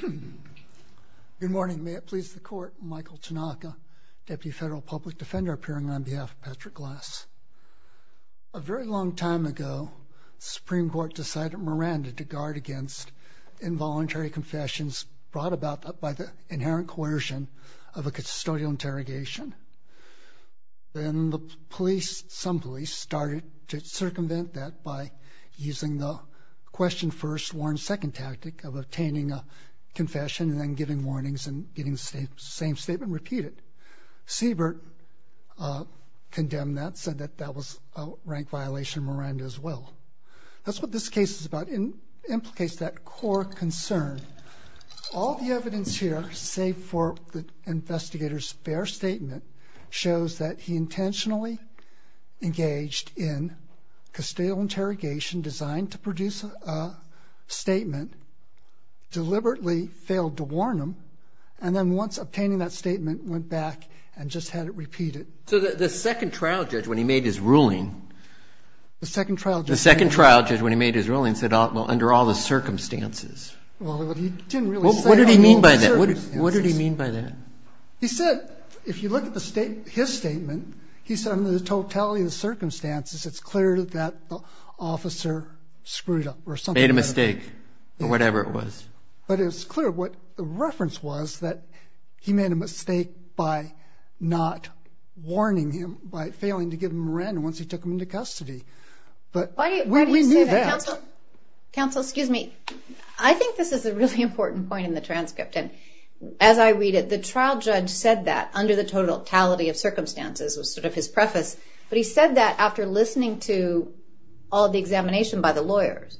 Good morning. May it please the Court, Michael Tanaka, Deputy Federal Public Defender appearing on behalf of Patrick Glass. A very long time ago, the Supreme Court decided Miranda to guard against involuntary confessions brought about by the inherent coercion of a custodial interrogation. Then the police, some police, started to circumvent that by using the question first warn second tactic of obtaining a confession and then giving warnings and getting the same statement repeated. Siebert condemned that, said that that was a rank violation of Miranda as well. That's what this case is about. It implicates that core concern. All the evidence here, save for the investigator's fair statement, shows that he intentionally engaged in custodial interrogation designed to produce a statement, deliberately failed to warn him, and then once obtaining that statement, went back and just had it repeated. So the second trial judge, when he made his ruling, the second trial judge when he made his ruling said, well, under all the circumstances. What did he mean by that? What did he mean by that? He said, if you look at his statement, he said, under the totality of the circumstances, it's clear that the officer screwed up. Made a mistake, or whatever it was. But it's clear what the reference was, that he made a mistake by not warning him, by failing to give him Miranda once he took him into custody. But we knew that. Counsel, excuse me. I think this is a really important point in the transcript. And as I read it, the trial judge said that under the totality of circumstances was sort of his preface. But he said that after listening to all the examination by the lawyers,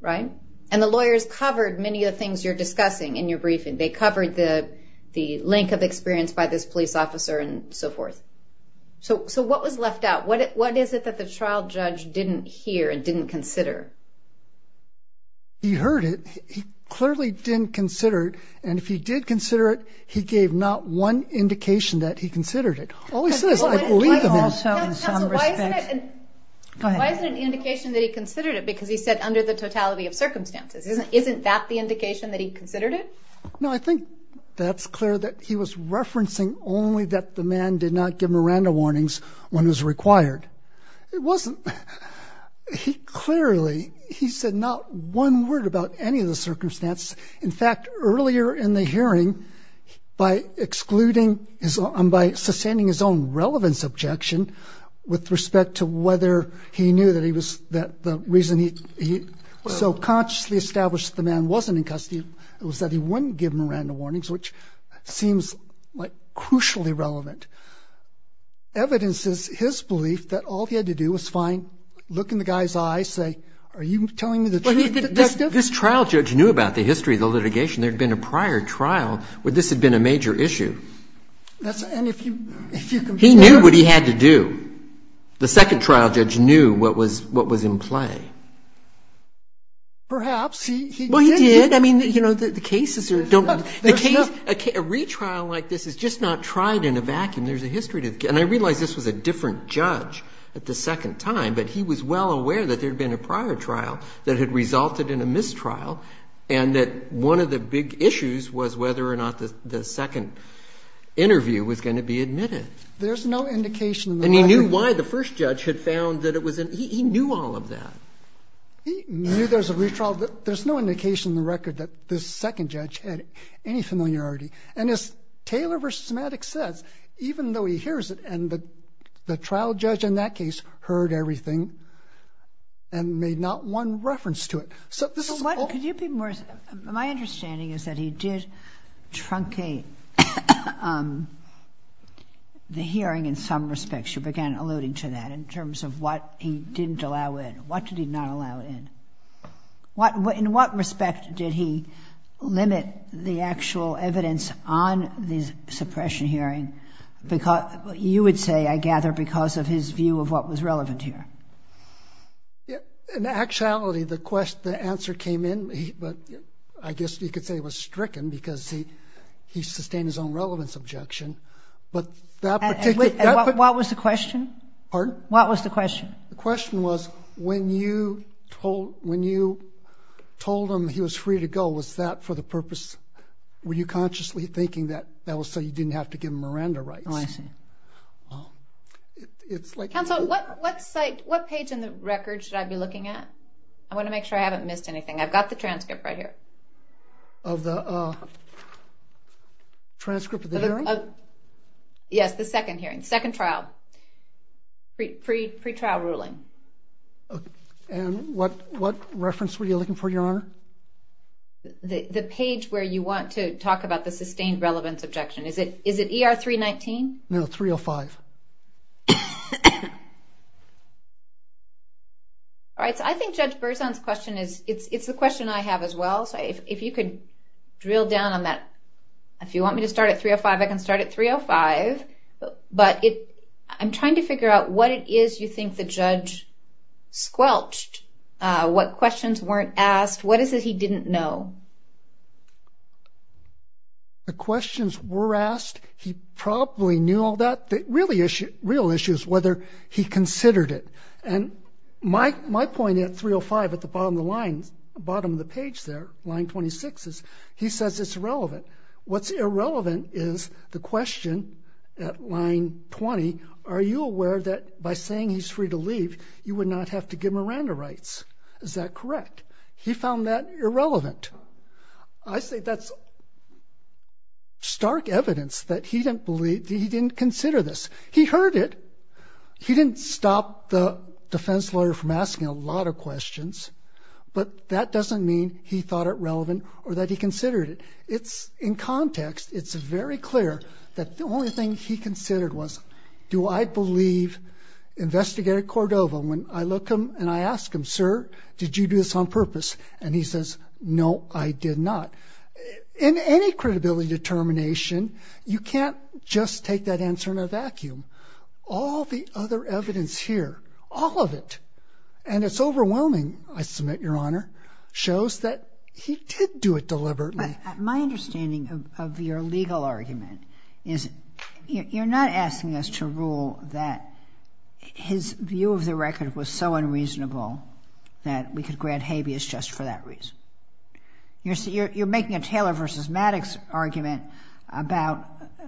right? And the lawyers covered many of the things you're discussing in your briefing. They covered the length of experience by this police officer and so forth. So what was left out? What is it that the trial judge didn't hear and didn't consider? He heard it. He clearly didn't consider it. And if he did consider it, he gave not one indication that he considered it. All he says is, I believe him. Counsel, why isn't it an indication that he considered it? Because he said under the totality of circumstances. Isn't that the indication that he considered it? No, I think that's clear that he was referencing only that the man did not give Miranda warnings when it was required. It wasn't. He clearly, he said not one word about any of the circumstance. In fact, earlier in the hearing, by excluding his own, by sustaining his own relevance objection with respect to whether he knew that he was that the reason he so consciously established the man wasn't in custody, it was that he wouldn't give him Miranda warnings, which seems like crucially relevant. Evidence is his belief that all he had to do was find, look in the guy's eyes, say, are you telling me the truth? This trial judge knew about the history of the litigation. There'd been a prior trial where this had been a major issue. He knew what he had to do. The second trial judge knew what was in play. Perhaps. Well, he did. I mean, you know, the cases are, a retrial like this is just not tried in a vacuum. There's a history to it. And I realized this was a different judge at the second time, but he was well aware that there'd been a prior trial that had resulted in a mistrial. And that one of the big issues was whether or not the second interview was going to be admitted. There's no indication and he knew why the first judge had found that it was an, he knew all of that. There's no indication in the record that the second judge had any familiarity. And as Taylor versus Maddox says, even though he hears it and the trial judge in that case heard everything and made not one reference to it. So this is all. So what, could you be more, my understanding is that he did truncate the hearing in some respects. You began alluding to that in terms of what he didn't allow in. What did he not allow in? What, in what respect did he limit the actual evidence on the suppression of hearing? Because you would say, I gather because of his view of what was relevant here. In actuality, the question, the answer came in, but I guess you could say it was stricken because he, he sustained his own relevance objection. But that particular. What was the question? Pardon? What was the question? The question was when you told, when you told him he was free to go, was that for the purpose, were you consciously thinking that, that was so you didn't have to give him Miranda rights? Oh, I see. It's like... Counsel, what, what site, what page in the record should I be looking at? I want to make sure I haven't missed anything. I've got the transcript right here. Of the transcript of the hearing? Yes, the second hearing, second trial. Pre, pre, pre-trial ruling. And what, what reference were you looking for, Your Honor? The, the page where you want to talk about the sustained relevance objection. Is it, is it ER 319? No, 305. All right. So I think Judge Berzon's question is, it's, it's the question I have as well. So if you could drill down on that, if you want me to start at 305, I can start at 305, but it, I'm trying to figure out what it is you think the judge squelched. What questions weren't asked? What is it he didn't know? The questions were asked. He probably knew all that. The really issue, real issue is whether he considered it. And my, my point at 305, at the bottom of the line, bottom of the page there, line 26, is he says it's irrelevant. What's irrelevant is the question at line 20. Are you aware that by saying he's free to leave, you would not have to give it? He found that irrelevant. I say that's stark evidence that he didn't believe, that he didn't consider this. He heard it. He didn't stop the defense lawyer from asking a lot of questions, but that doesn't mean he thought it relevant or that he considered it. It's in context, it's very clear that the only thing he considered was, do I believe investigator Cordova? When I look him and I ask him, sir, did you do this on purpose? And he says, no, I did not. In any credibility determination, you can't just take that answer in a vacuum. All the other evidence here, all of it, and it's overwhelming, I submit, Your Honor, shows that he did do it deliberately. My understanding of your legal argument is you're not asking us to rule that his view of the record was so unreasonable that we could grant habeas just for that reason. You're making a Taylor v. Maddox argument about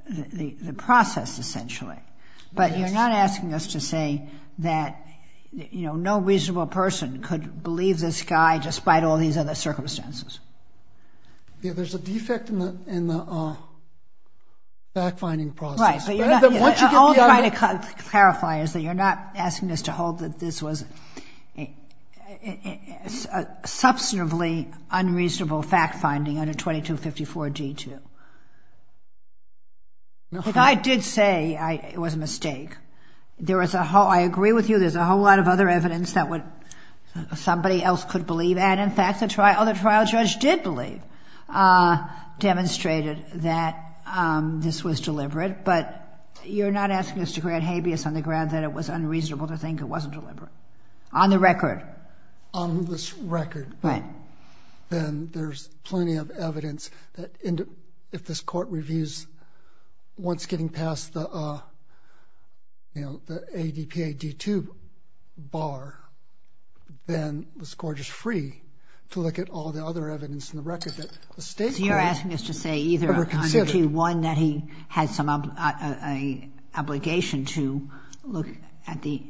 the process, essentially, but you're not asking us to say that no reasonable person could believe this guy despite all these other circumstances. Yeah, there's a defect in the fact-finding process. Right. All I'm trying to clarify is that you're not asking us to hold that this was a substantively unreasonable fact-finding under 2254-G2, which I did say it was a mistake. There was a whole, I agree with you, there's a whole lot of other evidence that somebody else could believe, and in fact, the trial judge did believe, demonstrated that this was deliberate, but you're not asking us to grant habeas on the ground that it was unreasonable to think it wasn't deliberate on the record. On this record, then there's plenty of evidence that if this court reviews once getting past the ADPA-G2 bar, then this court is free to look at all the other evidence in the record that the state court ever considered. So you're asking us to say either under G1 that he had some obligation to look at the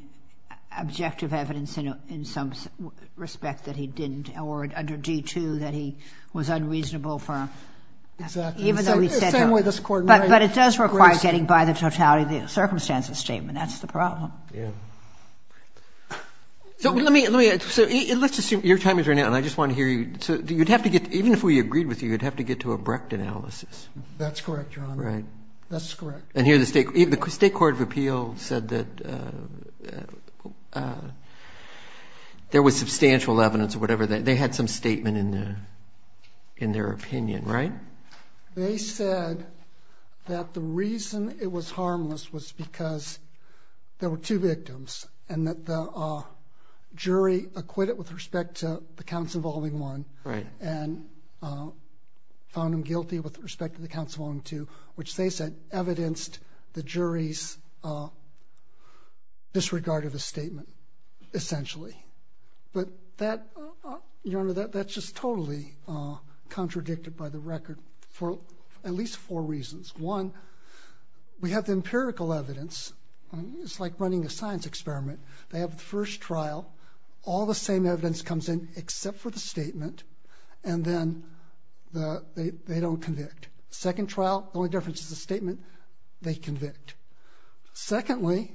objective evidence in some respect that he didn't, or under G2 that he was unreasonable for... Exactly. Even though he said... The same way this court might... But it does require getting by the totality of the circumstances statement. That's the problem. Yeah. So let me, let's assume your time is running out, and I just want to hear you, so you'd have to get, even if we agreed with you, you'd have to get to a Brecht analysis. That's correct, Your Honor. Right. That's correct. And here the state court of appeal said that there was substantial evidence or whatever that they had some statement in there, in their opinion, right? They said that the reason it was harmless was because there were two victims, and that the jury acquitted with respect to the counts involving one, and found him guilty with respect to the counts of only two, which they said evidenced the jury's disregard of the statement essentially. But that, Your Honor, that's just totally contradicted by the record for at least four reasons. One, we have the empirical evidence. It's like running a science experiment. They have the first trial, all the same evidence comes in except for the statement, and then they don't convict. Second trial, the only difference is the statement, they convict. Secondly,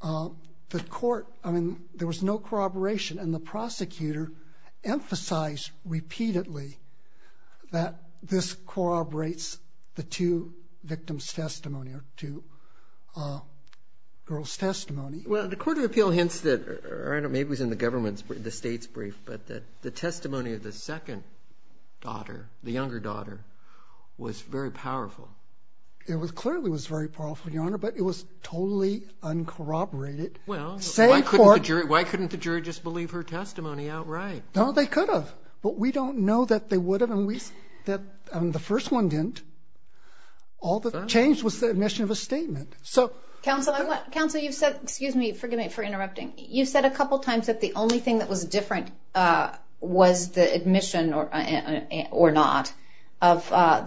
the court, I mean, there was no corroboration, and the prosecutor emphasized repeatedly that this corroborates the two victims' testimony, or two girls' testimony. Well, the court of appeal hints that, or I don't know, maybe it was in the government's brief, the state's brief, but that the testimony of the second daughter, the younger daughter, was very powerful. It clearly was very powerful, Your Honor, but it was totally uncorroborated. Well, why couldn't the jury just believe her testimony outright? No, they could have, but we don't know that they would have, and the first one didn't. All that changed was the admission of a statement. Counsel, you've said a couple times that the only thing that was different was the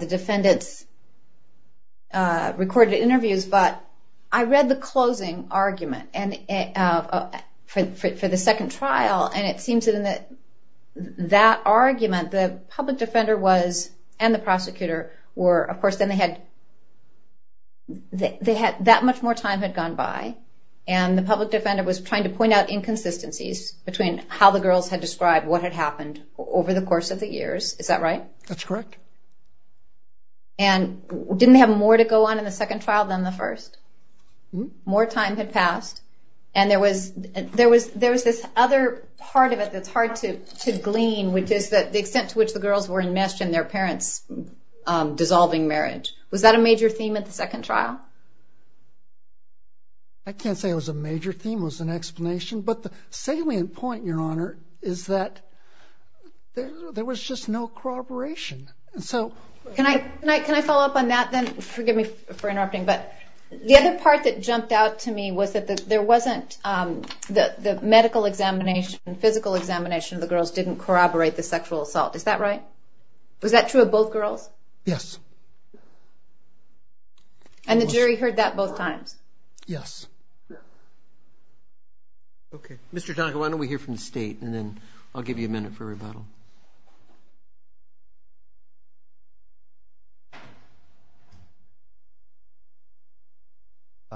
defendant's recorded interviews, but I read the closing argument for the second trial, and it seems that in that argument, the public defender was, and the prosecutor were, of course, that much more time had gone by, and the public defender was trying to point out inconsistencies between how the girls had described what had happened over the course of the years. Is that right? That's correct. And didn't they have more to go on in the second trial than the first? More time had passed, and there was this other part of it that's hard to glean, which is the extent to which the girls were enmeshed in their parents' dissolving marriage. Was that a major theme at the second trial? I can't say it was a major theme, it was an explanation, but the salient point, Your Honor, is that there was just no corroboration. Can I follow up on that, then? Forgive me for interrupting, but the other part that jumped out to me was that there wasn't the medical examination, physical examination of the girls didn't corroborate the sexual assault. Is that right? Was that true of both girls? Yes. And the jury heard that both times? Yes. Okay. Mr. Tonko, why don't we hear from the State, and then I'll give you a minute for rebuttal.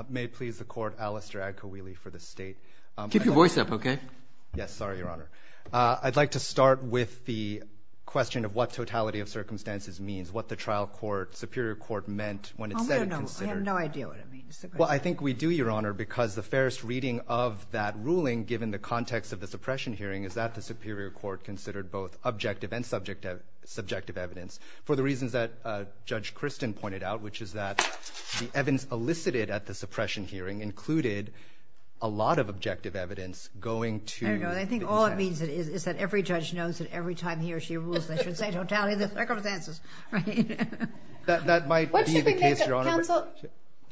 May it please the Court, Alistair Agkowili for the State. Keep your voice up, okay? Yes, sorry, Your Honor. I'd like to start with the question of what totality of circumstances means, what the trial court, Superior Court, meant when it said it considered... I have no idea what it means. Well, I think we do, Your Honor, because the fairest reading of that ruling, given the context of the suppression hearing, is that the Superior Court considered both objective and subjective evidence for the reasons that Judge Christin pointed out, which is that the evidence elicited at the suppression hearing included a lot of objective evidence going to... I think all it means is that every judge knows that every time he or she rules, they should say totality of the circumstances, right? That might be the case, Your Honor.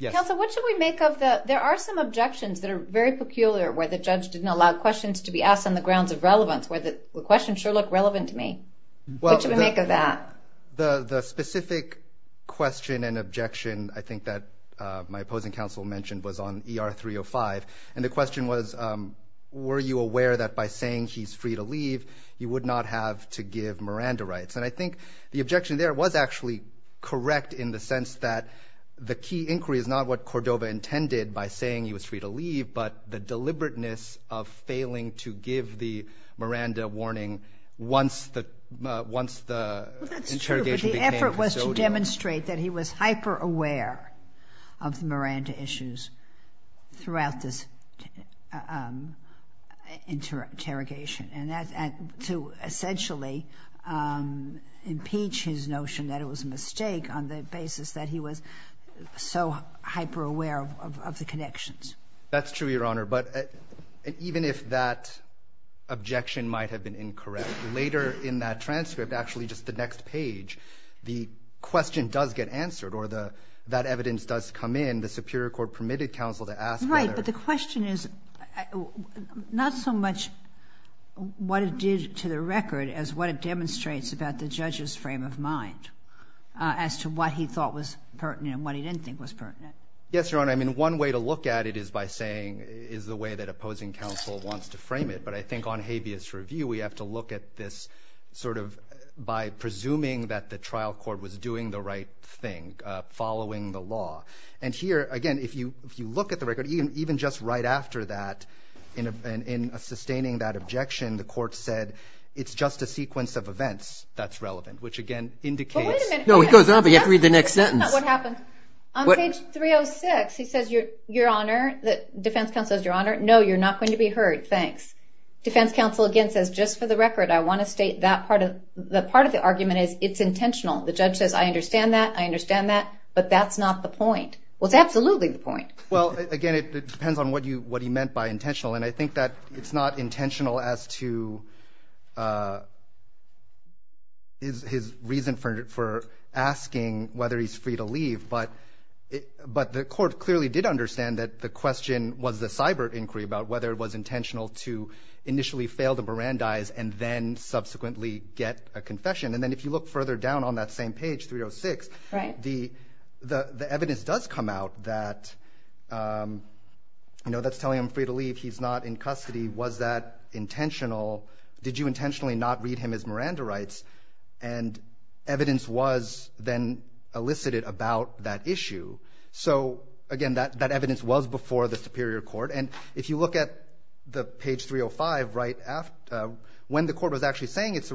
Counsel, what should we make of the... There are some objections that are very peculiar where the judge didn't allow questions to be asked on the grounds of relevance, where the questions sure look relevant to me. What should we make of that? The specific question and objection, I think, that my opposing counsel mentioned was on ER 305, and the question was, were you aware that by saying he's free to leave, you would not have to give Miranda rights? And I think the objection there was actually correct in the sense that the key inquiry is not what Cordova intended by saying he was free to leave, but the deliberateness of failing to give the Miranda warning once the interrogation became... That's true, but the effort was to demonstrate that he was hyper-aware of the Miranda issues throughout this interrogation. And to essentially impeach his notion that it was a mistake on the basis that he was so hyper-aware of the connections. That's true, Your Honor, but even if that objection might have been incorrect, later in that transcript, actually just the next page, the question does get answered, or that evidence does come in. The Superior Court permitted counsel to ask whether... What it did to the record is what it demonstrates about the judge's frame of mind as to what he thought was pertinent and what he didn't think was pertinent. Yes, Your Honor. I mean, one way to look at it is by saying, is the way that opposing counsel wants to frame it. But I think on habeas review, we have to look at this sort of by presuming that the trial court was doing the right thing, following the law. And here, again, if you look at the record, even just right after that, in sustaining that objection, the court said, it's just a sequence of events that's relevant, which, again, indicates... But wait a minute. No, it goes on, but you have to read the next sentence. That's not what happens. On page 306, he says, Your Honor, the defense counsel says, Your Honor, no, you're not going to be heard, thanks. Defense counsel, again, says, just for the record, I want to state that part of the argument is it's intentional. The judge says, I understand that, I understand that, but that's not the point. Well, it's absolutely the point. Well, again, it depends on what he meant by intentional. And I think that it's not intentional as to his reason for asking whether he's free to leave, but the court clearly did understand that the question was the cyber inquiry about whether it was intentional to initially fail to barandize and then subsequently get a confession. And then if you look further down on that same page, 306, the evidence does come out that's telling him free to leave. He's not in custody. Was that intentional? Did you intentionally not read him as Miranda rights? And evidence was then elicited about that issue. So again, that evidence was before the Superior Court. And if you look at page 305, when the court was actually saying which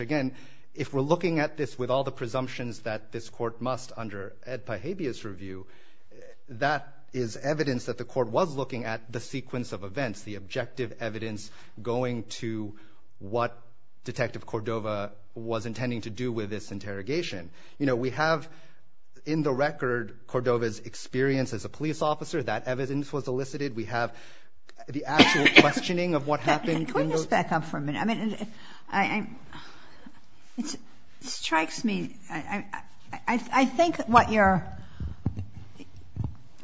again, if we're looking at this with all the presumptions that this court must under Ed Pahabia's review, that is evidence that the court was looking at the sequence of events, the objective evidence going to what Detective Cordova was intending to do with this interrogation. We have in the record Cordova's experience as a police officer, that evidence was elicited. We have the actual questioning of what happened. Can we just back up for a minute? I mean, it strikes me. I think what your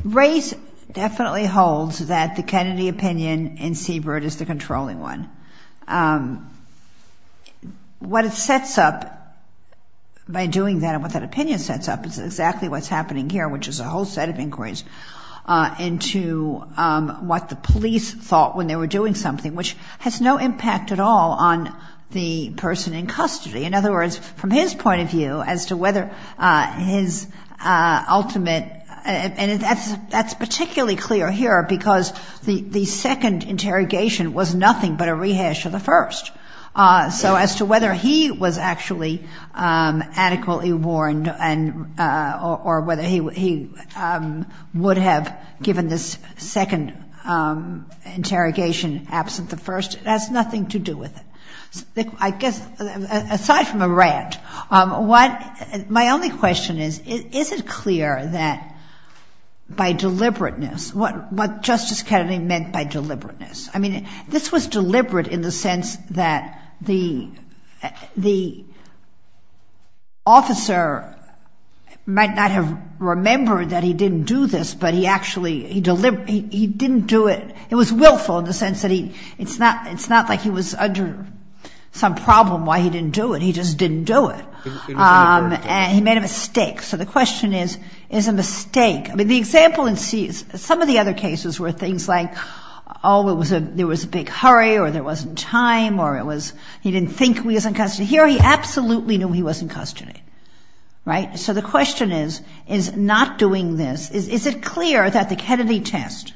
race definitely holds that the Kennedy opinion and Siebert is the controlling one. What it sets up by doing that and what that opinion sets up is exactly what's happening here, which is a whole set of inquiries into what the police thought when they were doing something, which has no impact at all on the person in custody. In other words, from his point of view as to whether his ultimate and that's particularly clear here because the second interrogation was nothing but a rehash of the first. So as to whether he was actually adequately warned or whether he would have given this second interrogation absent the first, it has nothing to do with it. I guess aside from a rant, my only question is, is it clear that by deliberateness, what Justice Kennedy meant by deliberateness? I mean, this was deliberate in the sense that the officer might not have remembered that he didn't do this, but he actually, he didn't do it. It was willful in the sense that it's not like he was under some problem why he didn't do it. He just didn't do it. He made a mistake. So the question is, is a mistake. I mean, the example in some of the other cases were things like, oh, there was a big hurry or there wasn't time or he didn't think he was in custody. Here, he absolutely knew he was in custody. So the question is, is not doing this, is it clear that the Kennedy test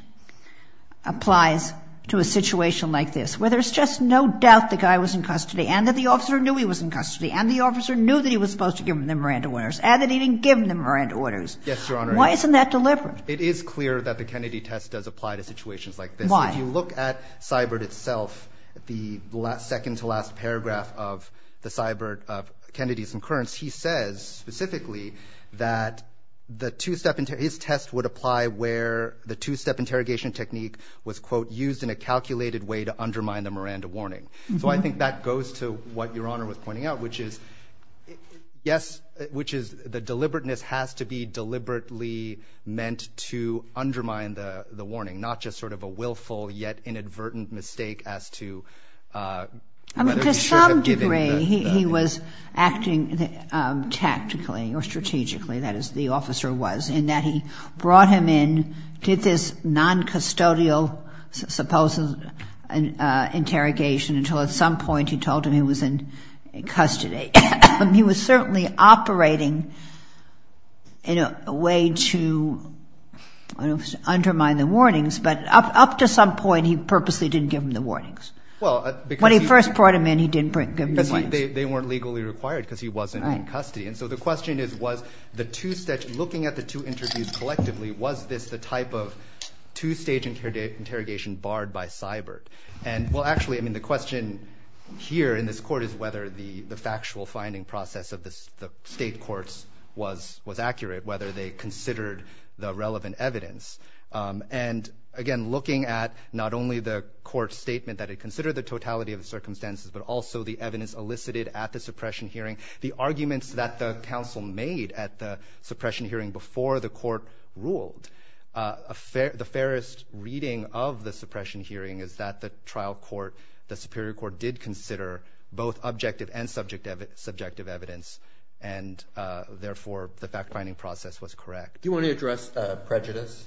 applies to a situation like this where there's just no doubt the guy was in custody and that the officer knew he was in custody and the officer knew that he was supposed to give him the Miranda orders and that he didn't give him the Miranda orders? Yes, Your Honor. Why isn't that deliberate? It is clear that the Kennedy test does apply to situations like this. Why? If you look at Seibert itself, the second to last paragraph of Kennedy's incurrence, he says specifically that his test would apply where the two-step interrogation technique was, quote, used in a calculated way to undermine the Miranda warning. So I think that goes to what Your Honor was pointing out, which is, yes, which is the deliberateness has to be deliberately meant to undermine the warning, not just sort of a willful yet inadvertent mistake as to whether we should have given the warning. He was acting tactically or strategically, that is the officer was, in that he brought him in, did this non-custodial supposed interrogation until at some point he told him he was in custody. He was certainly operating in a way to undermine the warnings, but up to some point he purposely didn't give him the warnings. When he first brought him in, he didn't give him the warnings. But they weren't legally required because he wasn't in custody. And so the question is, was the two steps, looking at the two interviews collectively, was this the type of two-stage interrogation barred by Seibert? And well, actually, I mean, the question here in this court is whether the factual finding process of the state courts was accurate, whether they considered the relevant evidence. And again, looking at not only the court's statement that it considered the totality of the circumstances, but also the evidence elicited at the suppression hearing, the arguments that the counsel made at the suppression hearing before the court ruled. The fairest reading of the suppression hearing is that the trial court, the Superior Court, did consider both objective and subjective evidence, and therefore the fact-finding process was correct. Do you want to address prejudice?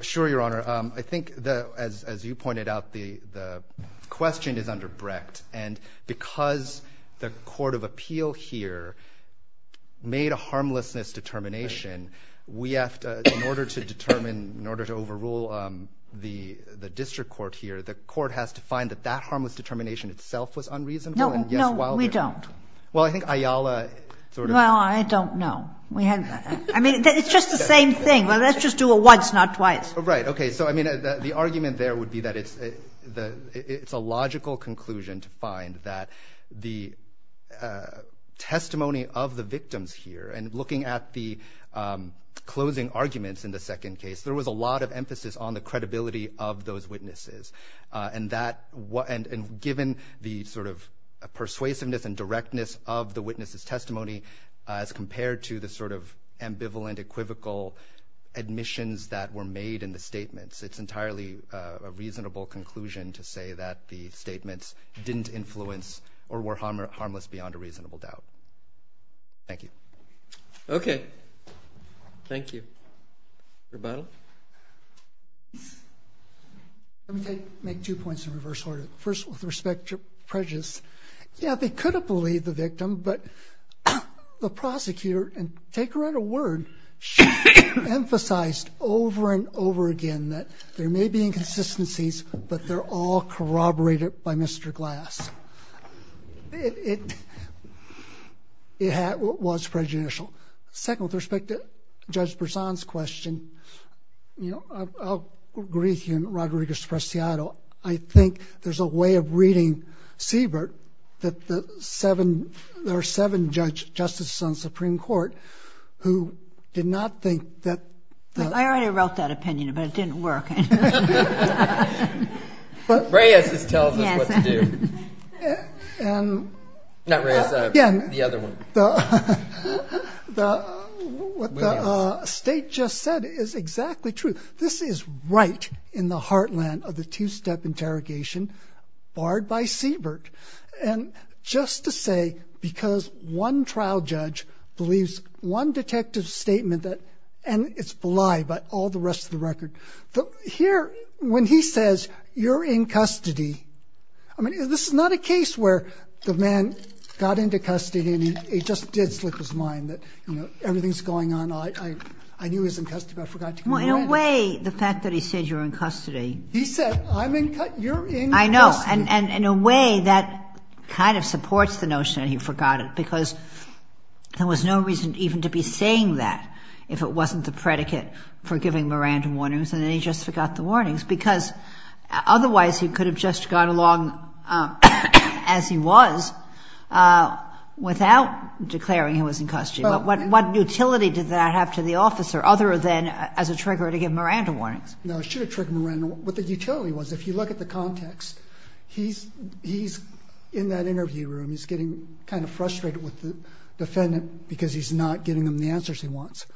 Sure, Your Honor. I think, as you pointed out, the question is under Brecht. And because the court of appeal here made a harmlessness determination, we have to, in order to determine, in order to overrule the district court here, the court has to find that that harmless determination itself was unreasonable. No, no, we don't. Well, I think Ayala sort of... Well, I don't know. I mean, it's just the same thing. Let's just do it once, not twice. Right, okay, so, I mean, the argument there would be that it's a logical conclusion to find that the testimony of the victims here, and looking at the closing arguments in the second case, there was a lot of emphasis on the credibility of those witnesses. And that... And given the sort of persuasiveness and directness of the witnesses' testimony as compared to the sort of ambivalent, equivocal admissions that were made in the statements, it's entirely a reasonable conclusion to say that the statements didn't influence or were harmless beyond a reasonable doubt. Thank you. Okay, thank you. Rebuttal? Let me take... make two points in reverse order. First, with respect to prejudice, yeah, they could have believed the victim, but the prosecutor... Take her at her word. She emphasized over and over again that there may be inconsistencies, but they're all corroborated by Mr. Glass. It... It was prejudicial. Second, with respect to Judge Bersan's question, you know, I'll agree with you, and Rodriguez-Preciado, I think there's a way of reading Siebert that the seven... who did not think that... I already wrote that opinion, but it didn't work. LAUGHTER Reyes just tells us what to do. And... Not Reyes, the other one. The... what the state just said is exactly true. This is right in the heartland of the two-step interrogation barred by Siebert. And just to say, because one trial judge believes one detective's statement that... And it's a lie by all the rest of the record. Here, when he says, you're in custody... I mean, this is not a case where the man got into custody and he just did slip his mind that, you know, everything's going on. I knew he was in custody, but I forgot to... Well, in a way, the fact that he said you're in custody... He said, I'm in... You're in custody. I know, and in a way, that kind of supports the notion that he forgot it, because there was no reason even to be saying that if it wasn't the predicate for giving Miranda warnings, and then he just forgot the warnings, because otherwise he could have just gone along as he was without declaring he was in custody. But what utility did that have to the officer other than as a trigger to give Miranda warnings? No, it should have triggered Miranda... What the utility was, if you look at the context, he's in that interview room, he's getting kind of frustrated with the defendant because he's not getting them the answers he wants.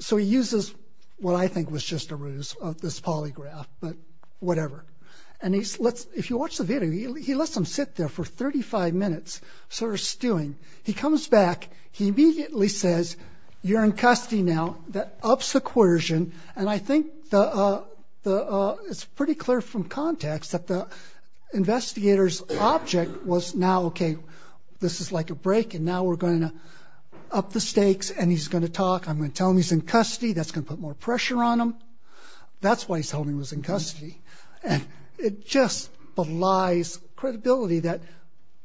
So he uses what I think was just a ruse of this polygraph, but whatever. And if you watch the video, he lets them sit there for 35 minutes, sort of stewing. He comes back, he immediately says, you're in custody now, that ups the coercion, and I think it's pretty clear from context that the investigator's object was now, OK, this is like a break, and now we're going to up the stakes, and he's going to talk, I'm going to tell him he's in custody, that's going to put more pressure on him. That's why he told me he was in custody. And it just belies credibility that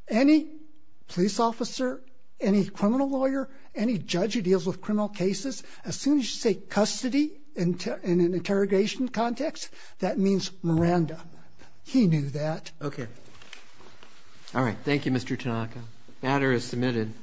any police officer, any criminal lawyer, any judge who deals with criminal cases, as soon as you say custody in an interrogation context, that means Miranda. He knew that. OK. All right, thank you, Mr. Tanaka. Matter is submitted.